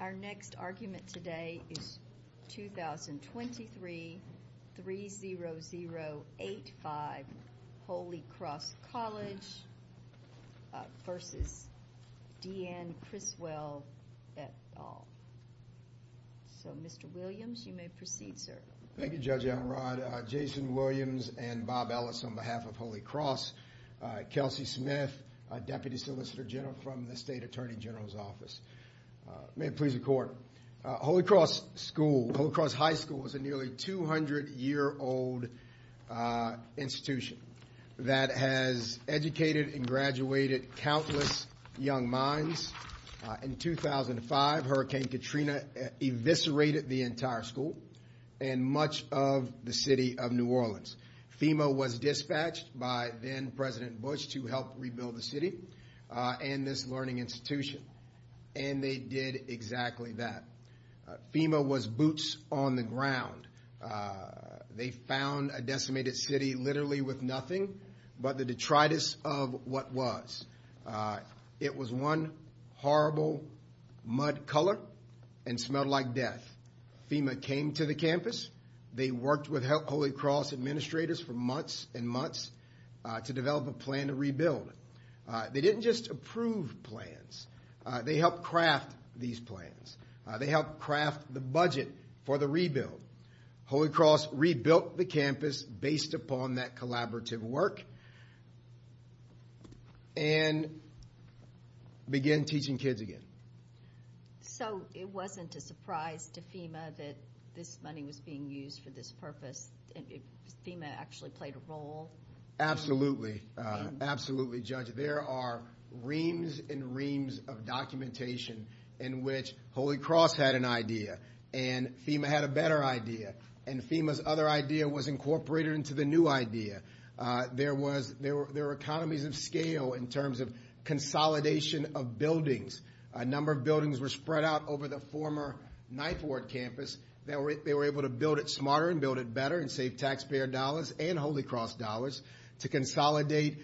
Our next argument today is 2023-30085 Holy Cross College v. D.N. Criswell, et al. So Mr. Williams, you may proceed, sir. Thank you, Judge Elrod. Jason Williams and Bob Ellis on behalf of Holy Cross. Kelsey Smith, Deputy Solicitor General from the State Attorney General's Office. May it please the Court, Holy Cross High School is a nearly 200-year-old institution that has educated and graduated countless young minds. In 2005, Hurricane Katrina eviscerated the entire school and much of the city of New Orleans. FEMA was dispatched by then-President Bush to help rebuild the city and this learning institution. And they did exactly that. FEMA was boots on the ground. They found a decimated city literally with nothing but the detritus of what was. It was one horrible mud color and smelled like death. FEMA came to the campus. They worked with Holy Cross administrators for months and months to develop a plan to rebuild. They didn't just approve plans. They helped craft these plans. They helped craft the budget for the rebuild. Holy Cross rebuilt the campus based upon that collaborative work and began teaching kids again. So it wasn't a surprise to FEMA that this money was being used for this purpose? FEMA actually played a role? Absolutely. Absolutely, Judge. There are reams and reams of documentation in which Holy Cross had an idea and FEMA had a better idea. And FEMA's other idea was incorporated into the new idea. There were economies of scale in terms of consolidation of buildings. A number of buildings were spread out over the former Knife Ward campus. They were able to build it smarter and build it better and save taxpayer dollars and Holy Cross dollars to consolidate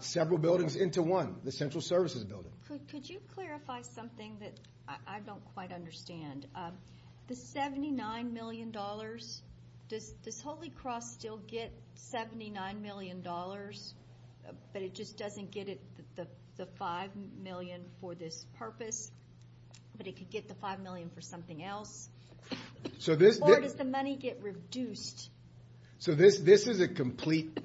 several buildings into one, the Central Services Building. Could you clarify something that I don't quite understand? The $79 million, does Holy Cross still get $79 million, but it just doesn't get the $5 million for this purpose? But it could get the $5 million for something else? Or does the money get reduced? So this is a complete,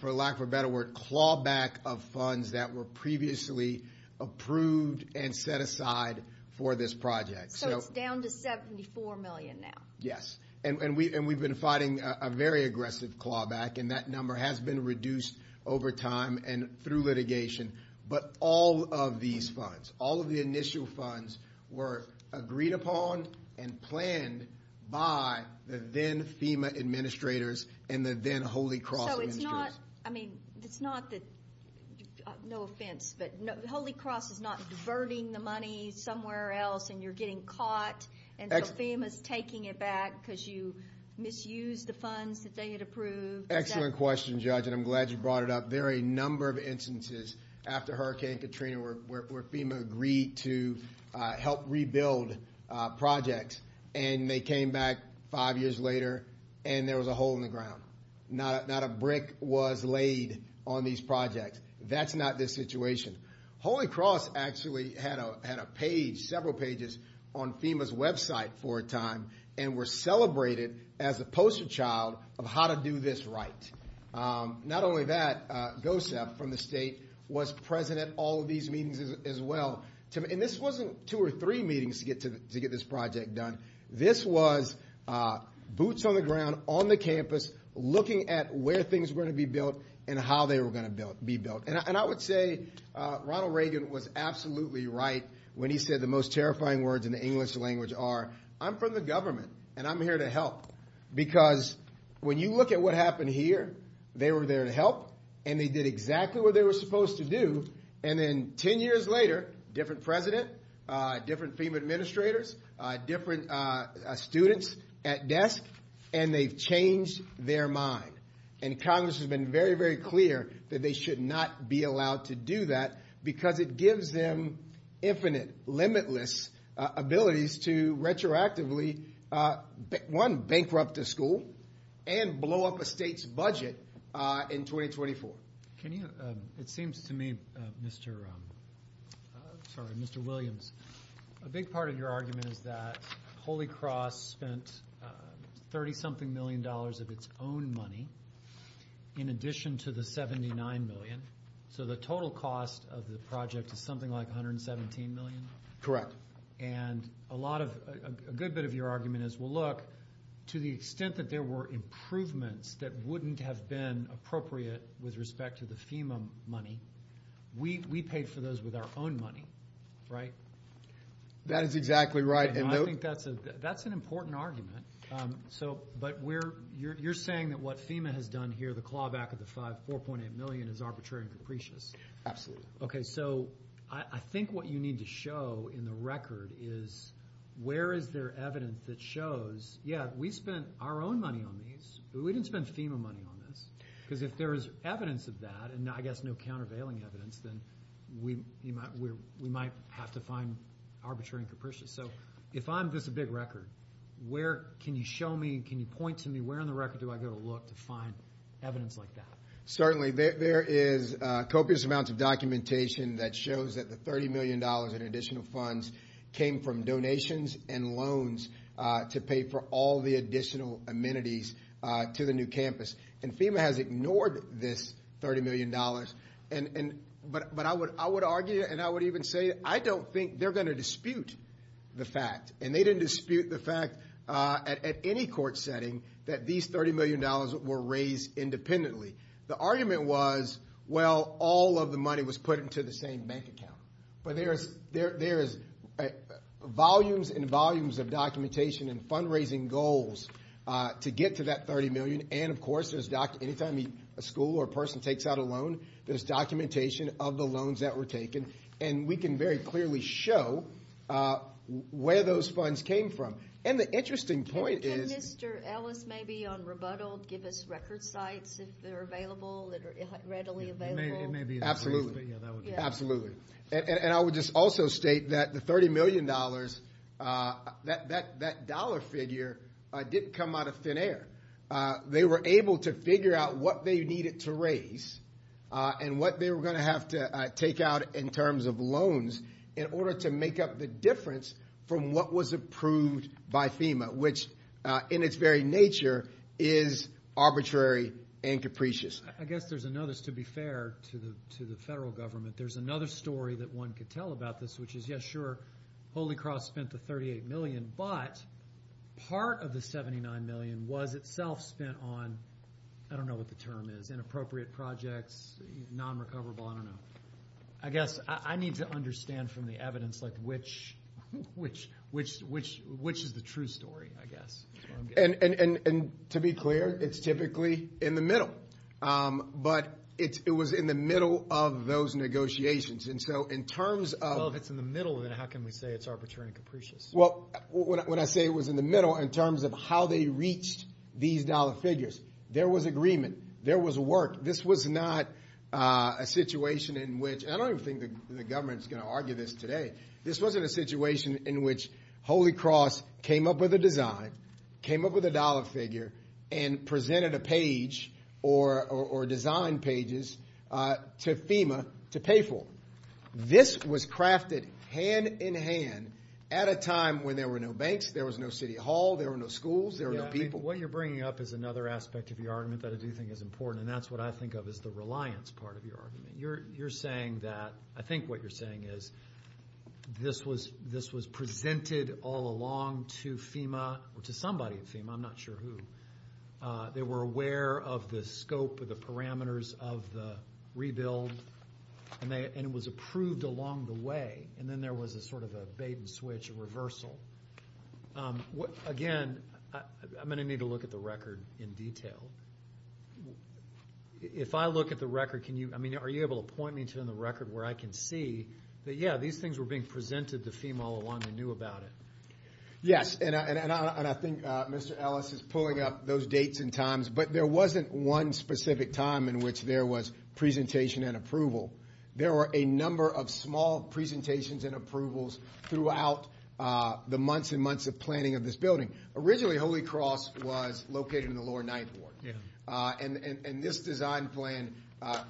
for lack of a better word, clawback of funds that were previously approved and set aside for this project. So it's down to $74 million now? Yes. And we've been fighting a very aggressive clawback, and that number has been reduced over time and through litigation. But all of these funds, all of the initial funds, were agreed upon and planned by the then-FEMA administrators and the then-Holy Cross administrators. I mean, it's not that – no offense, but Holy Cross is not diverting the money somewhere else and you're getting caught, and so FEMA's taking it back because you misused the funds that they had approved? Excellent question, Judge, and I'm glad you brought it up. There are a number of instances after Hurricane Katrina where FEMA agreed to help rebuild projects, and they came back five years later and there was a hole in the ground. Not a brick was laid on these projects. That's not the situation. Holy Cross actually had a page, several pages, on FEMA's website for a time and were celebrated as the poster child of how to do this right. Not only that, GOSEP from the state was present at all of these meetings as well. And this wasn't two or three meetings to get this project done. This was boots on the ground on the campus looking at where things were going to be built and how they were going to be built. And I would say Ronald Reagan was absolutely right when he said the most terrifying words in the English language are, I'm from the government and I'm here to help, because when you look at what happened here, they were there to help and they did exactly what they were supposed to do. And then ten years later, different president, different FEMA administrators, different students at desk, and they've changed their mind. And Congress has been very, very clear that they should not be allowed to do that because it gives them infinite, limitless abilities to retroactively, one, bankrupt a school and blow up a state's budget in 2024. It seems to me, Mr. Williams, a big part of your argument is that Holy Cross spent $30-something million of its own money in addition to the $79 million. So the total cost of the project is something like $117 million? Correct. And a good bit of your argument is, well, look, to the extent that there were improvements that wouldn't have been appropriate with respect to the FEMA money, we paid for those with our own money, right? That is exactly right. And I think that's an important argument. But you're saying that what FEMA has done here, the clawback of the $4.8 million is arbitrary and capricious. Absolutely. Okay, so I think what you need to show in the record is where is there evidence that shows, yeah, we spent our own money on these, but we didn't spend FEMA money on this, because if there is evidence of that, and I guess no countervailing evidence, then we might have to find arbitrary and capricious. So if I'm just a big record, where can you show me, can you point to me, where on the record do I go to look to find evidence like that? Certainly. There is copious amounts of documentation that shows that the $30 million in additional funds came from donations and loans to pay for all the additional amenities to the new campus. And FEMA has ignored this $30 million. But I would argue and I would even say I don't think they're going to dispute the fact, and they didn't dispute the fact at any court setting that these $30 million were raised independently. The argument was, well, all of the money was put into the same bank account. But there is volumes and volumes of documentation and fundraising goals to get to that $30 million. And, of course, anytime a school or person takes out a loan, there's documentation of the loans that were taken, and we can very clearly show where those funds came from. And the interesting point is – Can Mr. Ellis maybe on rebuttal give us record sites if they're available, readily available? Absolutely, absolutely. And I would just also state that the $30 million, that dollar figure didn't come out of thin air. They were able to figure out what they needed to raise and what they were going to have to take out in terms of loans in order to make up the difference from what was approved by FEMA, which in its very nature is arbitrary and capricious. I guess there's another, to be fair to the federal government, there's another story that one could tell about this, which is, yes, sure, Holy Cross spent the $38 million, but part of the $79 million was itself spent on, I don't know what the term is, inappropriate projects, non-recoverable, I don't know. I guess I need to understand from the evidence which is the true story, I guess. And to be clear, it's typically in the middle. But it was in the middle of those negotiations. And so in terms of – Well, if it's in the middle, then how can we say it's arbitrary and capricious? Well, when I say it was in the middle, in terms of how they reached these dollar figures, there was agreement, there was work. This was not a situation in which – and I don't even think the government is going to argue this today. This wasn't a situation in which Holy Cross came up with a design, came up with a dollar figure, and presented a page or design pages to FEMA to pay for. This was crafted hand in hand at a time when there were no banks, there was no city hall, there were no schools, there were no people. What you're bringing up is another aspect of your argument that I do think is important, and that's what I think of as the reliance part of your argument. You're saying that – I think what you're saying is this was presented all along to FEMA or to somebody at FEMA, I'm not sure who. They were aware of the scope of the parameters of the rebuild, and it was approved along the way. And then there was a sort of a bait and switch, a reversal. Again, I'm going to need to look at the record in detail. If I look at the record, can you – I mean, are you able to point me to the record where I can see that, yeah, these things were being presented to FEMA all along and they knew about it? Yes, and I think Mr. Ellis is pulling up those dates and times, but there wasn't one specific time in which there was presentation and approval. There were a number of small presentations and approvals throughout the months and months of planning of this building. Originally, Holy Cross was located in the Lower Ninth Ward, and this design plan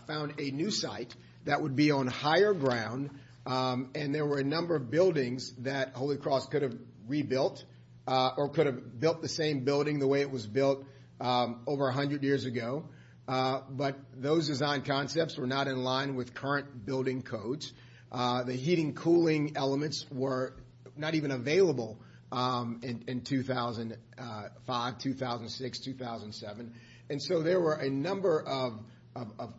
found a new site that would be on higher ground, and there were a number of buildings that Holy Cross could have rebuilt or could have built the same building the way it was built over 100 years ago, but those design concepts were not in line with current building codes. The heating and cooling elements were not even available in 2005, 2006, 2007, and so there were a number of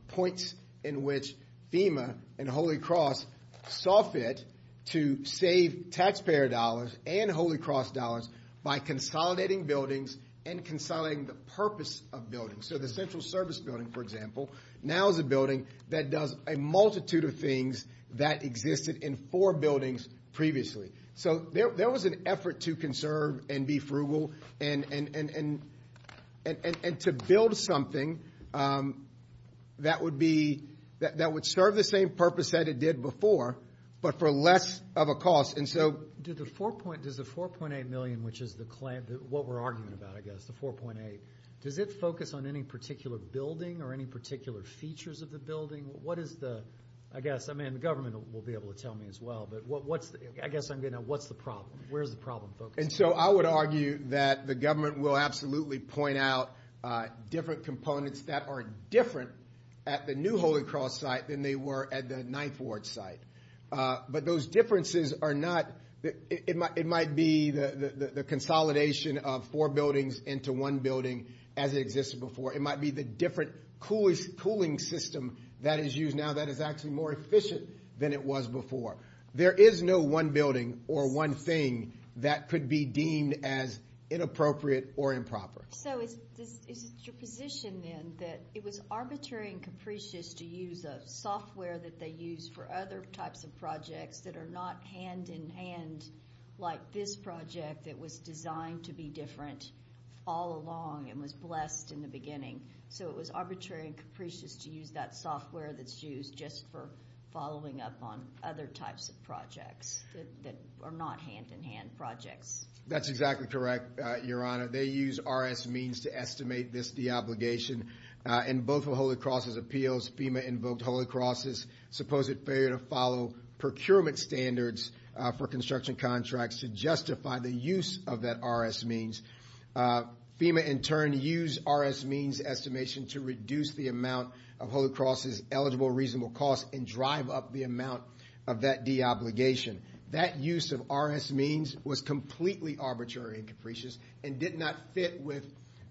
points in which FEMA and Holy Cross saw fit to save taxpayer dollars and Holy Cross dollars by consolidating buildings and consolidating the purpose of buildings. So the Central Service Building, for example, now is a building that does a multitude of things that existed in four buildings previously. So there was an effort to conserve and be frugal and to build something that would serve the same purpose that it did before, but for less of a cost. Does the $4.8 million, which is what we're arguing about, I guess, the $4.8 million, does it focus on any particular building or any particular features of the building? What is the, I guess, I mean, the government will be able to tell me as well, but I guess I'm getting at what's the problem? Where is the problem focused? And so I would argue that the government will absolutely point out different components that are different at the new Holy Cross site than they were at the Ninth Ward site, but those differences are not, it might be the consolidation of four buildings into one building as it existed before. It might be the different cooling system that is used now that is actually more efficient than it was before. There is no one building or one thing that could be deemed as inappropriate or improper. So is it your position then that it was arbitrary and capricious to use a software that they use for other types of projects that are not hand-in-hand like this project that was designed to be different all along and was blessed in the beginning? So it was arbitrary and capricious to use that software that's used just for following up on other types of projects that are not hand-in-hand projects? That's exactly correct, Your Honor. They use RS means to estimate this deobligation. In both of Holy Cross's appeals, FEMA invoked Holy Cross's supposed failure to follow procurement standards for construction contracts to justify the use of that RS means. FEMA, in turn, used RS means estimation to reduce the amount of Holy Cross's eligible reasonable costs and drive up the amount of that deobligation. That use of RS means was completely arbitrary and capricious and did not fit with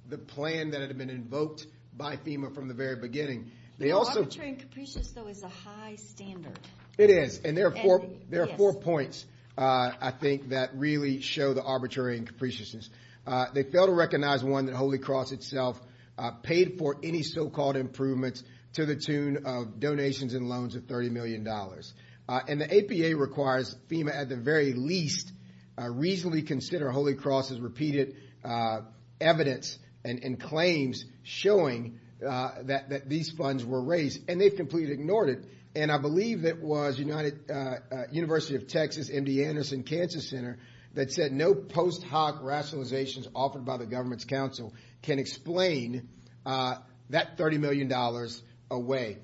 the plan that had been invoked by FEMA from the very beginning. Arbitrary and capricious, though, is a high standard. It is, and there are four points, I think, that really show the arbitrary and capriciousness. They fail to recognize, one, that Holy Cross itself paid for any so-called improvements to the tune of donations and loans of $30 million. And the APA requires FEMA, at the very least, reasonably consider Holy Cross's repeated evidence and claims showing that these funds were raised, and they've completely ignored it. And I believe it was University of Texas, MD Anderson Cancer Center, that said no post hoc rationalizations offered by the government's counsel can explain that $30 million away.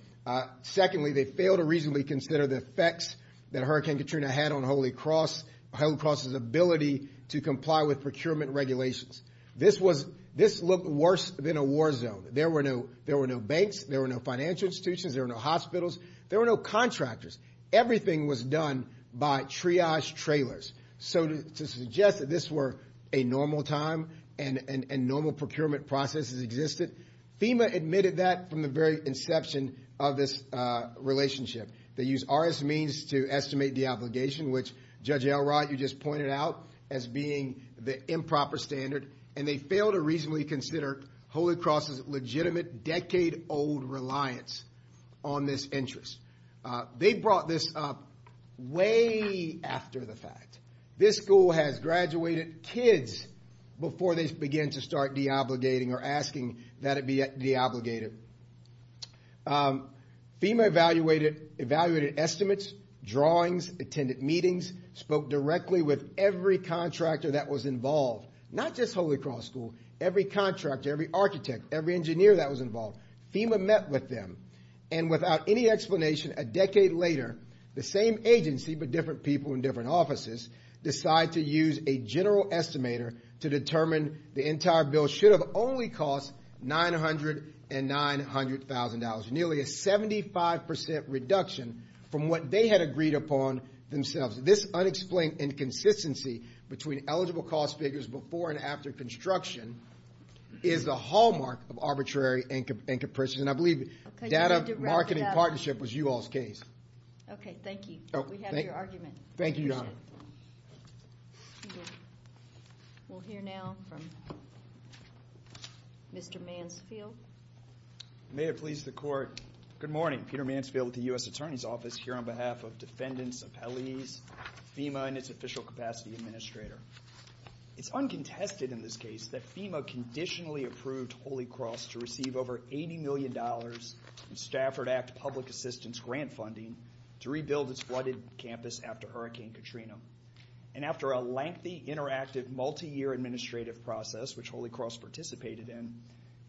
Secondly, they fail to reasonably consider the effects that Hurricane Katrina had on Holy Cross, Holy Cross's ability to comply with procurement regulations. This looked worse than a war zone. There were no banks. There were no financial institutions. There were no hospitals. There were no contractors. Everything was done by triage trailers. So to suggest that this were a normal time and normal procurement processes existed, FEMA admitted that from the very inception of this relationship. They used RS means to estimate deobligation, which Judge Elrod, you just pointed out, as being the improper standard. And they fail to reasonably consider Holy Cross's legitimate decade-old reliance on this interest. They brought this up way after the fact. This school has graduated kids before they begin to start deobligating or asking that it be deobligated. FEMA evaluated estimates, drawings, attended meetings, spoke directly with every contractor that was involved, not just Holy Cross School, every contractor, every architect, every engineer that was involved. FEMA met with them, and without any explanation, a decade later, the same agency but different people in different offices decide to use a general estimator to determine the entire bill should have only cost $900,000 and $900,000, nearly a 75% reduction from what they had agreed upon themselves. This unexplained inconsistency between eligible cost figures before and after construction is the hallmark of arbitrary and capricious. And I believe data marketing partnership was you all's case. Okay, thank you. We have your argument. Thank you, Your Honor. We'll hear now from Mr. Mansfield. May it please the Court. Good morning. Peter Mansfield with the U.S. Attorney's Office here on behalf of defendants, appellees, FEMA, and its official capacity administrator. It's uncontested in this case that FEMA conditionally approved Holy Cross to receive over $80 million in Stafford Act public assistance grant funding to rebuild its flooded campus after Hurricane Katrina. And after a lengthy, interactive, multi-year administrative process, which Holy Cross participated in,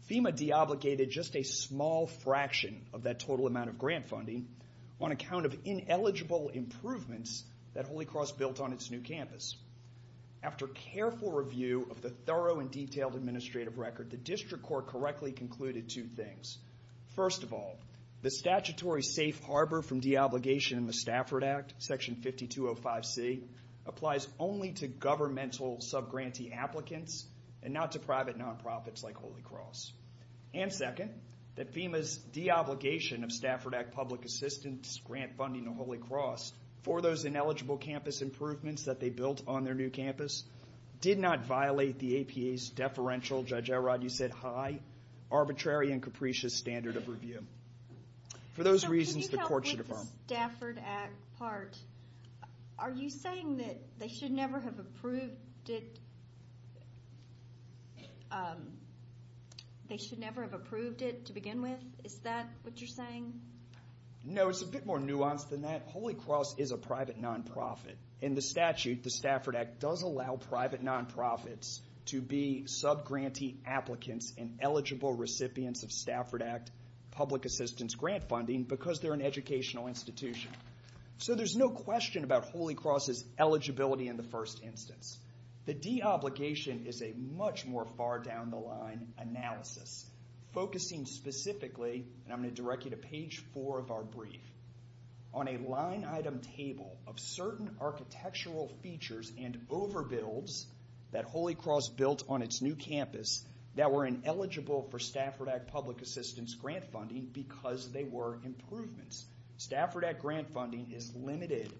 FEMA deobligated just a small fraction of that total amount of grant funding on account of ineligible improvements that Holy Cross built on its new campus. After careful review of the thorough and detailed administrative record, the district court correctly concluded two things. First of all, the statutory safe harbor from deobligation in the Stafford Act, Section 5205C, applies only to governmental subgrantee applicants and not to private nonprofits like Holy Cross. And second, that FEMA's deobligation of Stafford Act public assistance grant funding to Holy Cross for those ineligible campus improvements that they built on their new campus did not violate the APA's deferential, Judge Elrod, you said, high, arbitrary, and capricious standard of review. For those reasons, the court should affirm. So can you help with the Stafford Act part? Are you saying that they should never have approved it to begin with? Is that what you're saying? No, it's a bit more nuanced than that. Holy Cross is a private nonprofit. In the statute, the Stafford Act does allow private nonprofits to be subgrantee applicants and eligible recipients of Stafford Act public assistance grant funding because they're an educational institution. So there's no question about Holy Cross's eligibility in the first instance. The deobligation is a much more far down the line analysis, focusing specifically, and I'm going to direct you to page four of our brief, on a line item table of certain architectural features and overbuilds that Holy Cross built on its new campus that were ineligible for Stafford Act public assistance grant funding because they were improvements. Stafford Act grant funding is limited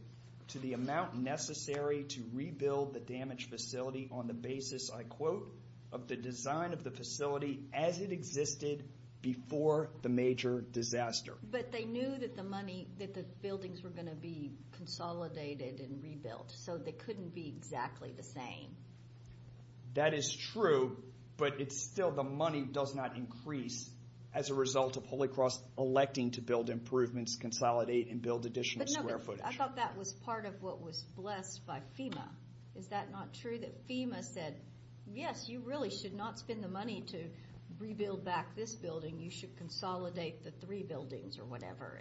to the amount necessary to rebuild the damaged facility on the basis, I quote, of the design of the facility as it existed before the major disaster. But they knew that the buildings were going to be consolidated and rebuilt, so they couldn't be exactly the same. That is true, but it's still the money does not increase as a result of Holy Cross electing to build improvements, consolidate, and build additional square footage. I thought that was part of what was blessed by FEMA. Is that not true that FEMA said, yes, you really should not spend the money to rebuild back this building. You should consolidate the three buildings or whatever.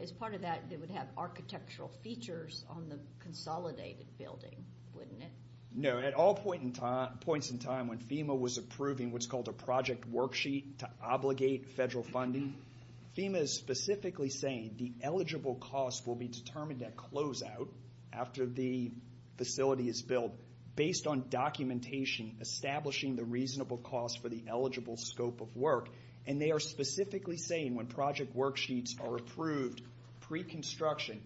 As part of that, it would have architectural features on the consolidated building, wouldn't it? No. At all points in time when FEMA was approving what's called a project worksheet to obligate federal funding, FEMA is specifically saying the eligible cost will be determined at closeout after the facility is built based on documentation establishing the reasonable cost for the eligible scope of work. And they are specifically saying when project worksheets are approved pre-construction,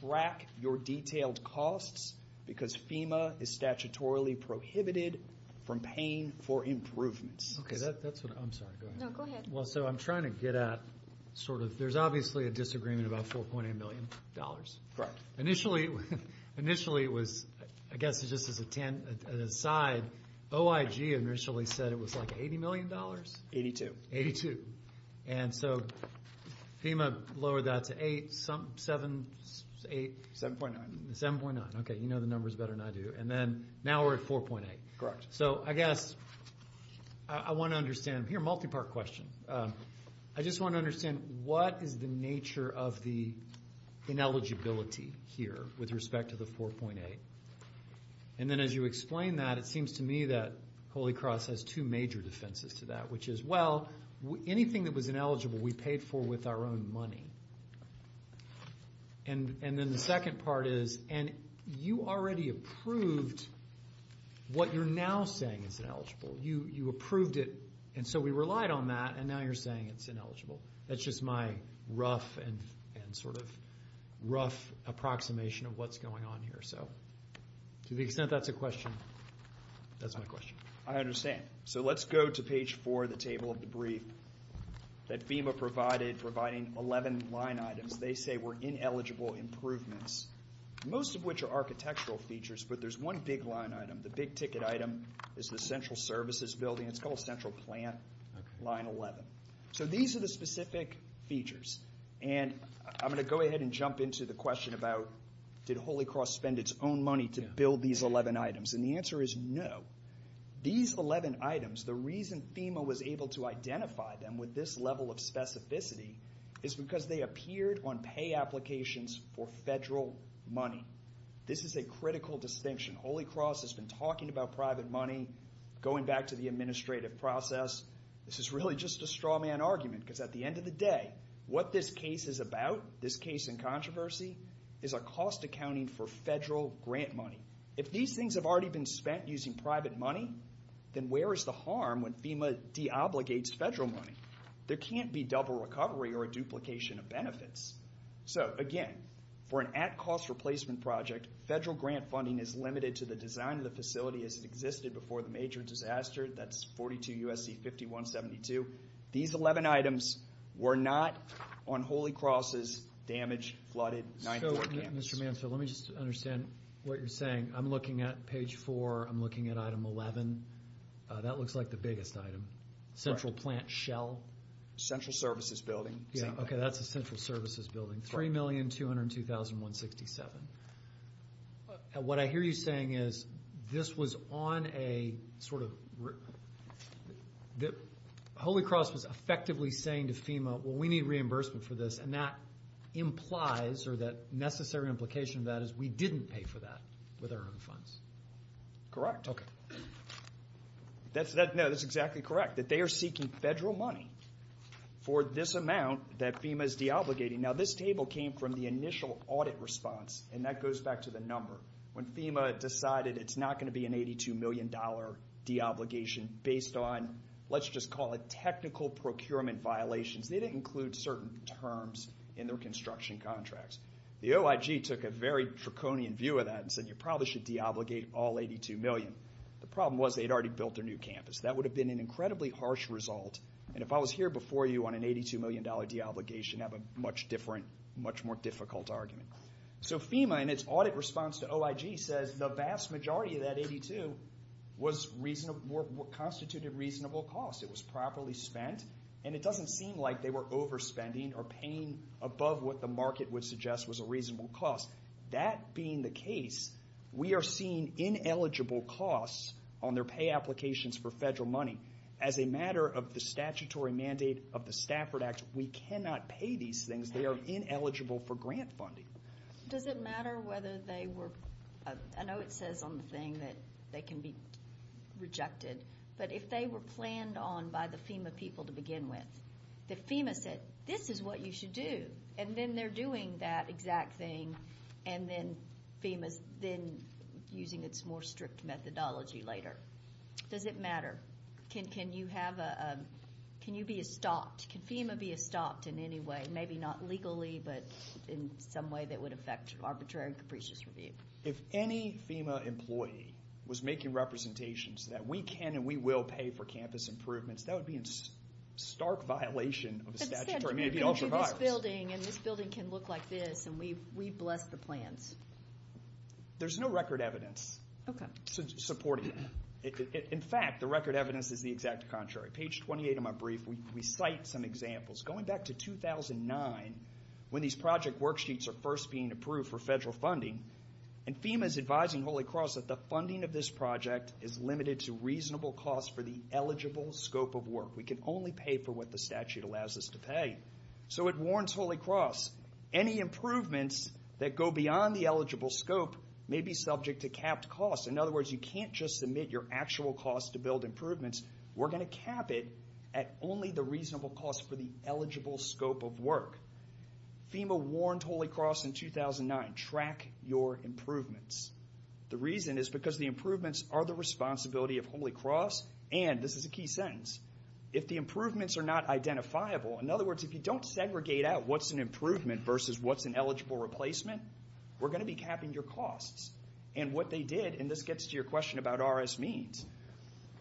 track your detailed costs because FEMA is statutorily prohibited from paying for improvements. Okay, that's what I'm sorry. Go ahead. No, go ahead. Well, so I'm trying to get at sort of, there's obviously a disagreement about $4.8 million. Correct. Initially it was, I guess just as an aside, OIG initially said it was like $80 million. Eighty-two. Eighty-two. And so FEMA lowered that to eight, seven, eight. 7.9. 7.9. Okay, you know the numbers better than I do. And then now we're at 4.8. Correct. So I guess I want to understand, here a multi-part question. I just want to understand what is the nature of the ineligibility here with respect to the 4.8? And then as you explain that, it seems to me that Holy Cross has two major defenses to that, which is, well, anything that was ineligible we paid for with our own money. And then the second part is, and you already approved what you're now saying is ineligible. You approved it, and so we relied on that, and now you're saying it's ineligible. That's just my rough and sort of rough approximation of what's going on here. So to the extent that's a question, that's my question. I understand. So let's go to page four of the table of the brief that FEMA provided, providing 11 line items. They say were ineligible improvements, most of which are architectural features, but there's one big line item. The big ticket item is the Central Services Building. It's called Central Plant, line 11. So these are the specific features, and I'm going to go ahead and jump into the question about, did Holy Cross spend its own money to build these 11 items? And the answer is no. These 11 items, the reason FEMA was able to identify them with this level of specificity is because they appeared on pay applications for federal money. This is a critical distinction. Holy Cross has been talking about private money, going back to the administrative process. This is really just a straw man argument because at the end of the day, what this case is about, this case in controversy, is a cost accounting for federal grant money. If these things have already been spent using private money, then where is the harm when FEMA deobligates federal money? There can't be double recovery or a duplication of benefits. So, again, for an at-cost replacement project, federal grant funding is limited to the design of the facility as it existed before the major disaster. That's 42 U.S.C. 5172. These 11 items were not on Holy Cross's damaged, flooded 94 campus. So, Mr. Manfield, let me just understand what you're saying. I'm looking at page 4. I'm looking at item 11. That looks like the biggest item, central plant shell. Central services building. Okay, that's a central services building, 3,202,167. What I hear you saying is this was on a sort of – Holy Cross was effectively saying to FEMA, well, we need reimbursement for this, and that implies or that necessary implication of that is we didn't pay for that with our own funds. Correct. Okay. No, that's exactly correct, that they are seeking federal money for this amount that FEMA is deobligating. Now, this table came from the initial audit response, and that goes back to the number. When FEMA decided it's not going to be an $82 million deobligation based on, let's just call it technical procurement violations, they didn't include certain terms in their construction contracts. The OIG took a very draconian view of that and said you probably should deobligate all $82 million. The problem was they had already built their new campus. That would have been an incredibly harsh result, and if I was here before you on an $82 million deobligation, I'd have a much different, much more difficult argument. So FEMA, in its audit response to OIG, says the vast majority of that $82 constituted reasonable costs. It was properly spent, and it doesn't seem like they were overspending or paying above what the market would suggest was a reasonable cost. That being the case, we are seeing ineligible costs on their pay applications for federal money. As a matter of the statutory mandate of the Stafford Act, we cannot pay these things. They are ineligible for grant funding. Does it matter whether they were – I know it says on the thing that they can be rejected, but if they were planned on by the FEMA people to begin with, that FEMA said this is what you should do, and then they're doing that exact thing, and then FEMA's then using its more strict methodology later. Does it matter? Can you be a stop? Can FEMA be a stop in any way, maybe not legally, but in some way that would affect arbitrary and capricious review? If any FEMA employee was making representations that we can and we will pay for campus improvements, that would be in stark violation of the statutory mandate of all survivors. Instead, you can do this building, and this building can look like this, and we bless the plans. There's no record evidence supporting that. In fact, the record evidence is the exact contrary. Page 28 of my brief, we cite some examples. Going back to 2009, when these project worksheets are first being approved for federal funding, and FEMA's advising Holy Cross that the funding of this project is limited to reasonable costs for the eligible scope of work. We can only pay for what the statute allows us to pay. So it warns Holy Cross, any improvements that go beyond the eligible scope may be subject to capped costs. In other words, you can't just submit your actual costs to build improvements. We're going to cap it at only the reasonable cost for the eligible scope of work. FEMA warned Holy Cross in 2009, track your improvements. The reason is because the improvements are the responsibility of Holy Cross, and this is a key sentence, if the improvements are not identifiable, in other words, if you don't segregate out what's an improvement versus what's an eligible replacement, we're going to be capping your costs. And what they did, and this gets to your question about RS means,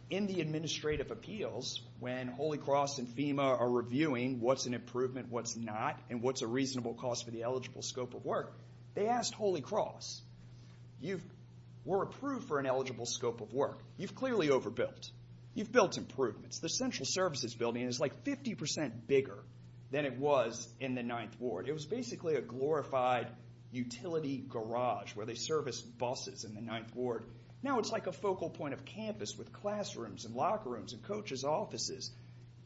in the administrative appeals, when Holy Cross and FEMA are reviewing what's an improvement, what's not, and what's a reasonable cost for the eligible scope of work, they asked Holy Cross, you were approved for an eligible scope of work. You've clearly overbuilt. You've built improvements. The central services building is like 50% bigger than it was in the Ninth Ward. It was basically a glorified utility garage where they serviced buses in the Ninth Ward. Now it's like a focal point of campus with classrooms and locker rooms and coaches' offices.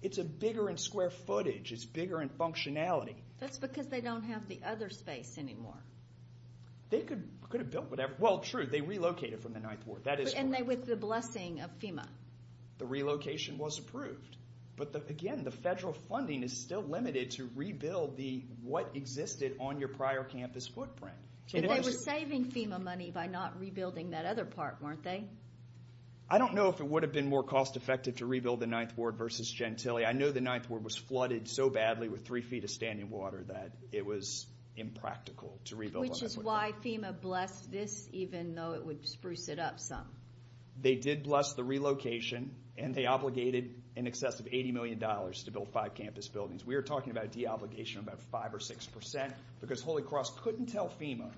It's bigger in square footage. It's bigger in functionality. That's because they don't have the other space anymore. They could have built whatever. Well, true, they relocated from the Ninth Ward. And with the blessing of FEMA. The relocation was approved. But again, the federal funding is still limited to rebuild what existed on your prior campus footprint. But they were saving FEMA money by not rebuilding that other part, weren't they? I don't know if it would have been more cost effective to rebuild the Ninth Ward versus Gentilly. I know the Ninth Ward was flooded so badly with three feet of standing water that it was impractical to rebuild. Which is why FEMA blessed this, even though it would spruce it up some. They did bless the relocation, and they obligated in excess of $80 million to build five campus buildings. We are talking about deobligation of about 5% or 6%, because Holy Cross couldn't tell FEMA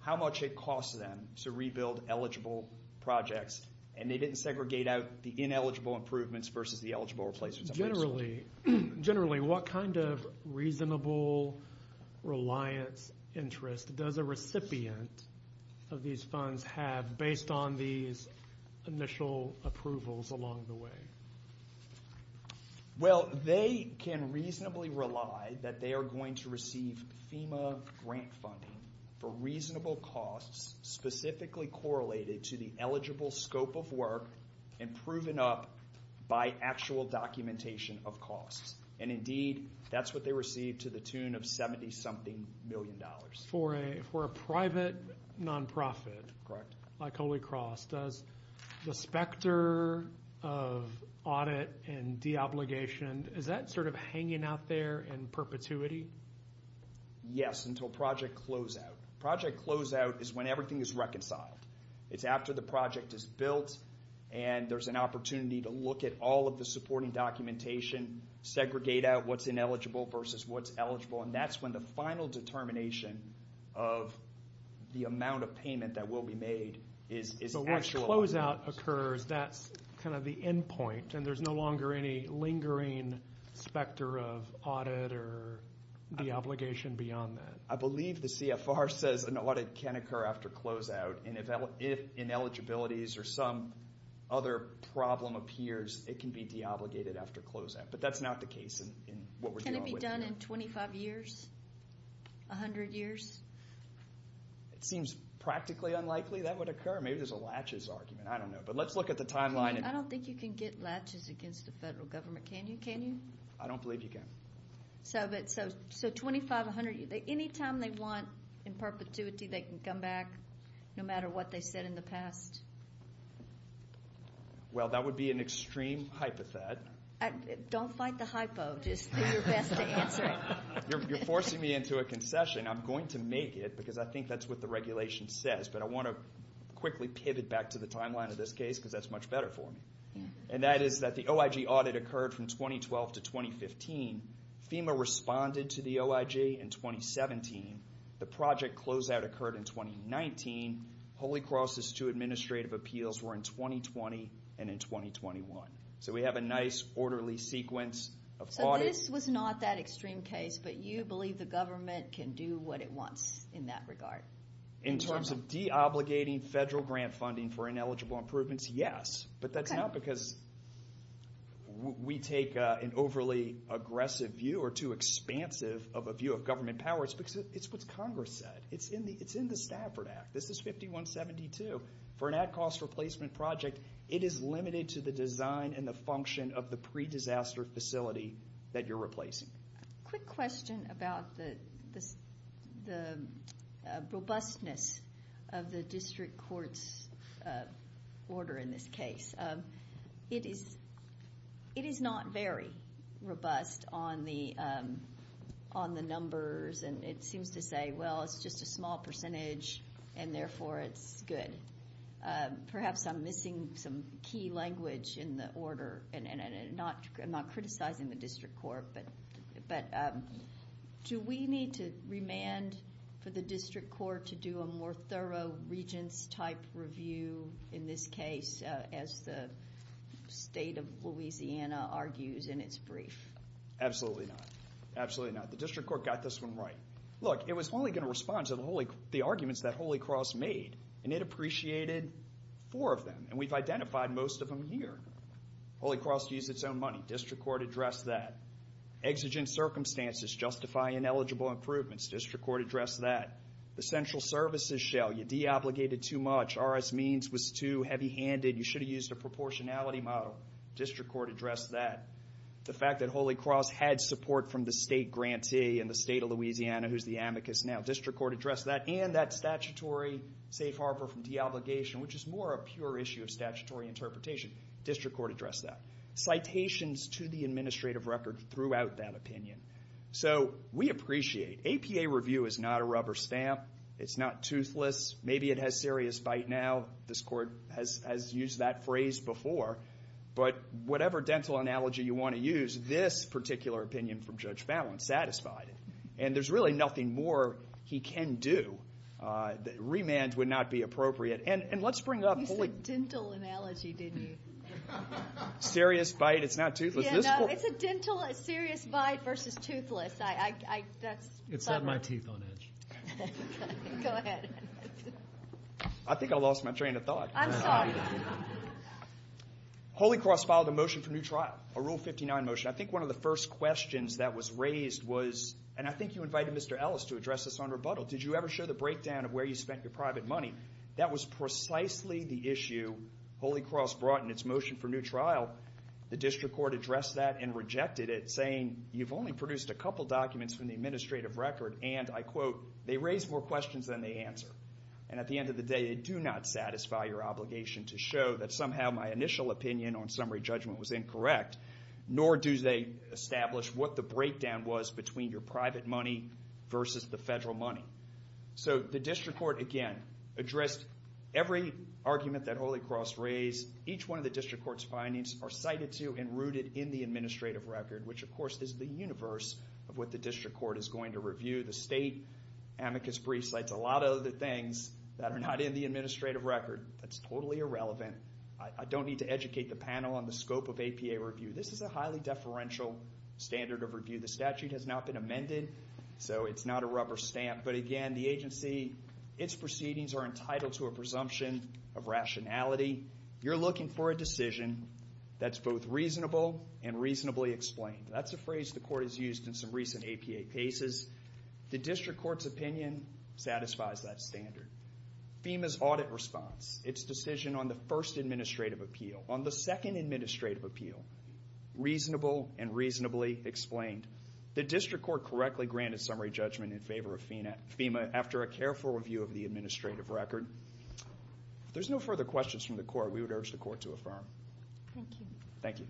how much it costs them to rebuild eligible projects. And they didn't segregate out the ineligible improvements versus the eligible replacements. Generally, what kind of reasonable reliance interest does a recipient of these funds have based on these initial approvals along the way? Well, they can reasonably rely that they are going to receive FEMA grant funding for reasonable costs specifically correlated to the eligible scope of work and proven up by actual documentation of costs. And indeed, that's what they receive to the tune of $70-something million. For a private nonprofit like Holy Cross, the specter of audit and deobligation, is that sort of hanging out there in perpetuity? Yes, until project closeout. Project closeout is when everything is reconciled. It's after the project is built, and there's an opportunity to look at all of the supporting documentation, segregate out what's ineligible versus what's eligible. And that's when the final determination of the amount of payment that will be made is actual. So when closeout occurs, that's kind of the end point, and there's no longer any lingering specter of audit or deobligation beyond that? I believe the CFR says an audit can occur after closeout, and if ineligibilities or some other problem appears, it can be deobligated after closeout. But that's not the case in what we're dealing with here. Can it be done in 25 years, 100 years? It seems practically unlikely that would occur. Maybe there's a latches argument. I don't know. But let's look at the timeline. I don't think you can get latches against the federal government. Can you? I don't believe you can. So 25, 100 years. Any time they want in perpetuity, they can come back, no matter what they said in the past? Well, that would be an extreme hypothet. Don't fight the hypo. Just do your best to answer it. You're forcing me into a concession. I'm going to make it because I think that's what the regulation says. But I want to quickly pivot back to the timeline of this case because that's much better for me. And that is that the OIG audit occurred from 2012 to 2015. FEMA responded to the OIG in 2017. The project closeout occurred in 2019. Holy Cross's two administrative appeals were in 2020 and in 2021. So we have a nice orderly sequence of audits. So this was not that extreme case, but you believe the government can do what it wants in that regard? In terms of deobligating federal grant funding for ineligible improvements, yes. But that's not because we take an overly aggressive view or too expansive of a view of government power. It's because it's what Congress said. It's in the Stafford Act. This is 5172. For an at-cost replacement project, it is limited to the design and the function of the pre-disaster facility that you're replacing. Just a quick question about the robustness of the district court's order in this case. It is not very robust on the numbers, and it seems to say, well, it's just a small percentage, and therefore it's good. Perhaps I'm missing some key language in the order. I'm not criticizing the district court, but do we need to remand for the district court to do a more thorough regents-type review in this case, as the state of Louisiana argues in its brief? Absolutely not. Absolutely not. The district court got this one right. Look, it was only going to respond to the arguments that Holy Cross made, and it appreciated four of them, and we've identified most of them here. Holy Cross used its own money. District court addressed that. Exigent circumstances justify ineligible improvements. District court addressed that. The central services shell, you de-obligated too much. RS Means was too heavy-handed. You should have used a proportionality model. District court addressed that. The fact that Holy Cross had support from the state grantee in the state of Louisiana, who's the amicus now, district court addressed that, and that statutory safe harbor from de-obligation, which is more a pure issue of statutory interpretation. District court addressed that. Citations to the administrative record throughout that opinion. So we appreciate. APA review is not a rubber stamp. It's not toothless. Maybe it has serious bite now. This court has used that phrase before, but whatever dental analogy you want to use, this particular opinion from Judge Fallon satisfied it, and there's really nothing more he can do. Remand would not be appropriate, and let's bring up Holy Cross. That was a dental analogy, didn't you? Serious bite. It's not toothless. It's a dental serious bite versus toothless. It's got my teeth on edge. Go ahead. I think I lost my train of thought. I'm sorry. Holy Cross filed a motion for new trial, a Rule 59 motion. I think one of the first questions that was raised was, and I think you invited Mr. Ellis to address this on rebuttal, did you ever show the breakdown of where you spent your private money? That was precisely the issue Holy Cross brought in its motion for new trial. The district court addressed that and rejected it, saying, you've only produced a couple documents from the administrative record, and I quote, they raise more questions than they answer, and at the end of the day they do not satisfy your obligation to show that somehow my initial opinion on summary judgment was incorrect, nor do they establish what the breakdown was between your private money versus the federal money. The district court, again, addressed every argument that Holy Cross raised. Each one of the district court's findings are cited to and rooted in the administrative record, which of course is the universe of what the district court is going to review. The state amicus brief cites a lot of the things that are not in the administrative record. That's totally irrelevant. I don't need to educate the panel on the scope of APA review. This is a highly deferential standard of review. The statute has not been amended, so it's not a rubber stamp, but again, the agency, its proceedings are entitled to a presumption of rationality. You're looking for a decision that's both reasonable and reasonably explained. That's a phrase the court has used in some recent APA cases. The district court's opinion satisfies that standard. FEMA's audit response, its decision on the first administrative appeal, on the second administrative appeal, reasonable and reasonably explained. The district court correctly granted summary judgment in favor of FEMA after a careful review of the administrative record. If there's no further questions from the court, we would urge the court to affirm. Thank you. Thank you.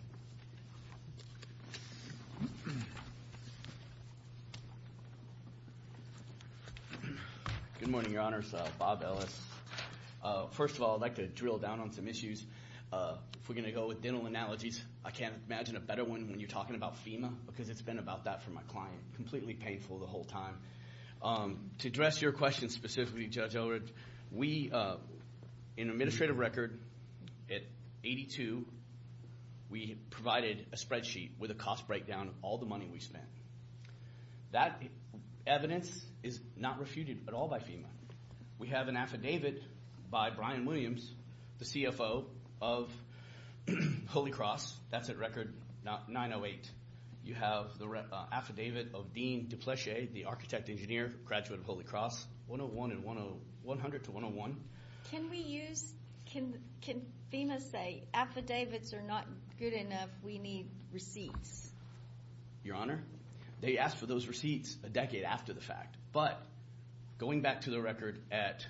Good morning, Your Honors. Bob Ellis. First of all, I'd like to drill down on some issues. If we're going to go with dental analogies, I can't imagine a better one when you're talking about FEMA because it's been about that for my client. Completely painful the whole time. To address your question specifically, Judge Elridge, we, in administrative record at 82, we provided a spreadsheet with a cost breakdown of all the money we spent. That evidence is not refuted at all by FEMA. We have an affidavit by Brian Williams, the CFO of Holy Cross. That's at record 908. You have the affidavit of Dean DePleche, the architect engineer, graduate of Holy Cross, 101 and 100 to 101. Can we use, can FEMA say affidavits are not good enough, we need receipts? Your Honor, they asked for those receipts a decade after the fact. But going back to the record at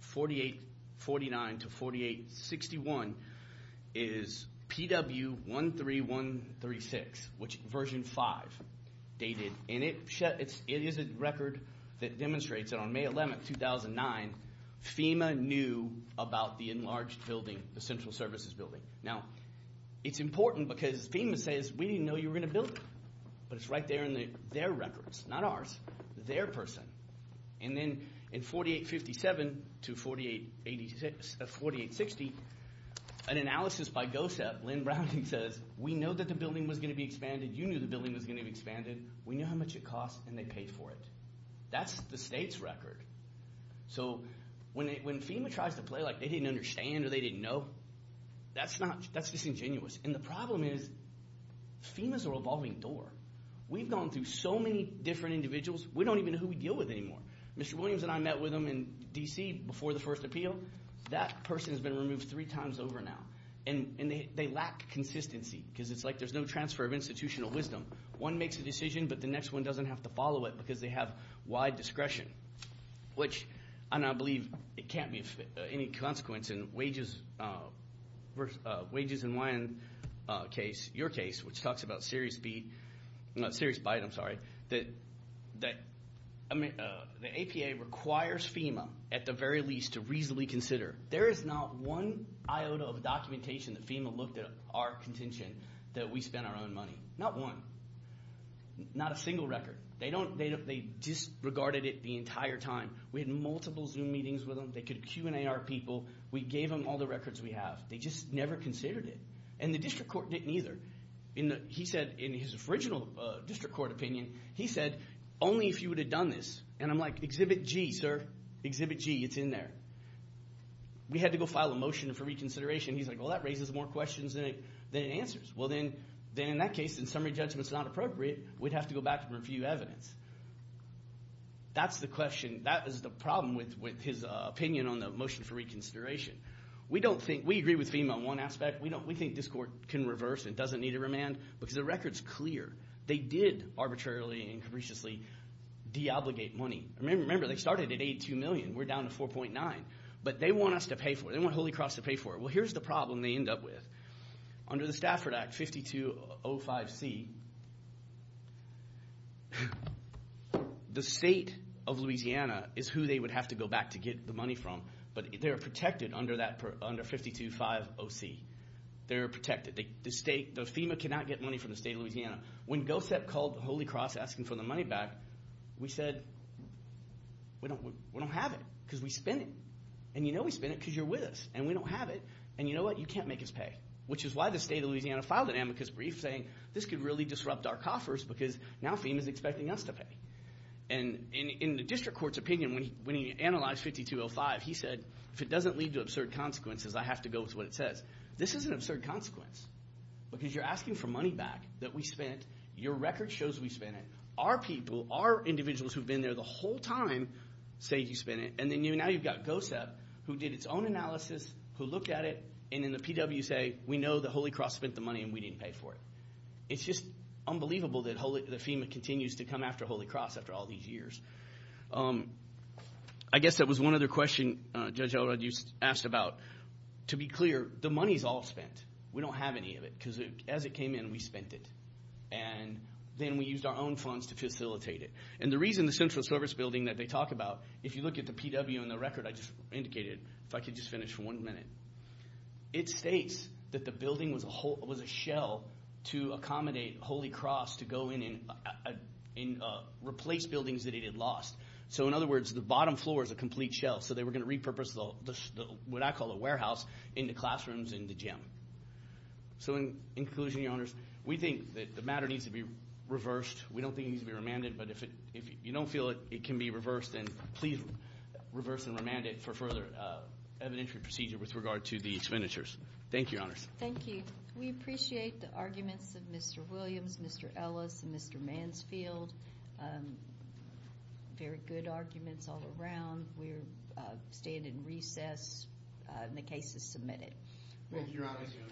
4849 to 4861 is PW13136, which version 5 dated. It is a record that demonstrates that on May 11, 2009, FEMA knew about the enlarged building, the central services building. Now, it's important because FEMA says, we didn't know you were going to build it. But it's right there in their records, not ours. Their person. And then in 4857 to 4860, an analysis by GOSEP, Lynn Browning says, we know that the building was going to be expanded. You knew the building was going to be expanded. We knew how much it cost, and they paid for it. That's the state's record. So when FEMA tries to play like they didn't understand or they didn't know, that's disingenuous. And the problem is FEMA is a revolving door. We've gone through so many different individuals, we don't even know who we deal with anymore. Mr. Williams and I met with him in D.C. before the first appeal. That person has been removed three times over now. And they lack consistency, because it's like there's no transfer of institutional wisdom. One makes a decision, but the next one doesn't have to follow it because they have wide discretion, which I now believe it can't be of any consequence. In wages and wine case, your case, which talks about serious bite, the APA requires FEMA, at the very least, to reasonably consider. There is not one iota of documentation that FEMA looked at our contention that we spent our own money, not one, not a single record. They disregarded it the entire time. We had multiple Zoom meetings with them. They could Q&A our people. We gave them all the records we have. They just never considered it. And the district court didn't either. He said in his original district court opinion, he said only if you would have done this. And I'm like, Exhibit G, sir. Exhibit G, it's in there. We had to go file a motion for reconsideration. He's like, well, that raises more questions than it answers. Well, then in that case, in summary judgment, it's not appropriate. We'd have to go back and review evidence. That's the question. That is the problem with his opinion on the motion for reconsideration. We agree with FEMA on one aspect. We think this court can reverse and doesn't need to remand because the record's clear. They did arbitrarily and capriciously de-obligate money. Remember, they started at $82 million. We're down to $4.9 million. But they want us to pay for it. They want Holy Cross to pay for it. Well, here's the problem they end up with. Under the Stafford Act 5205C, the state of Louisiana is who they would have to go back to get the money from. But they're protected under 5205OC. They're protected. The FEMA cannot get money from the state of Louisiana. When GOSEP called Holy Cross asking for the money back, we said, we don't have it because we spent it. And you know we spent it because you're with us. And we don't have it. And you know what? We can't make us pay, which is why the state of Louisiana filed an amicus brief saying, this could really disrupt our coffers because now FEMA's expecting us to pay. And in the district court's opinion, when he analyzed 5205, he said, if it doesn't lead to absurd consequences, I have to go with what it says. This is an absurd consequence because you're asking for money back that we spent. Your record shows we spent it. Our people, our individuals who have been there the whole time say you spent it. And now you've got GOSEP who did its own analysis, who looked at it, and in the PW say we know that Holy Cross spent the money and we didn't pay for it. It's just unbelievable that FEMA continues to come after Holy Cross after all these years. I guess that was one other question Judge Elrod asked about. To be clear, the money's all spent. We don't have any of it because as it came in, we spent it. And then we used our own funds to facilitate it. And the reason the Central Service Building that they talk about, if you look at the PW and the record I just indicated, if I could just finish for one minute, it states that the building was a shell to accommodate Holy Cross to go in and replace buildings that it had lost. So in other words, the bottom floor is a complete shell. So they were going to repurpose what I call a warehouse into classrooms and the gym. So in conclusion, Your Honors, we think that the matter needs to be reversed. We don't think it needs to be remanded. But if you don't feel it can be reversed, then please reverse and remand it for further evidentiary procedure with regard to the expenditures. Thank you, Your Honors. Thank you. We appreciate the arguments of Mr. Williams, Mr. Ellis, and Mr. Mansfield. Very good arguments all around. Thank you, Your Honors.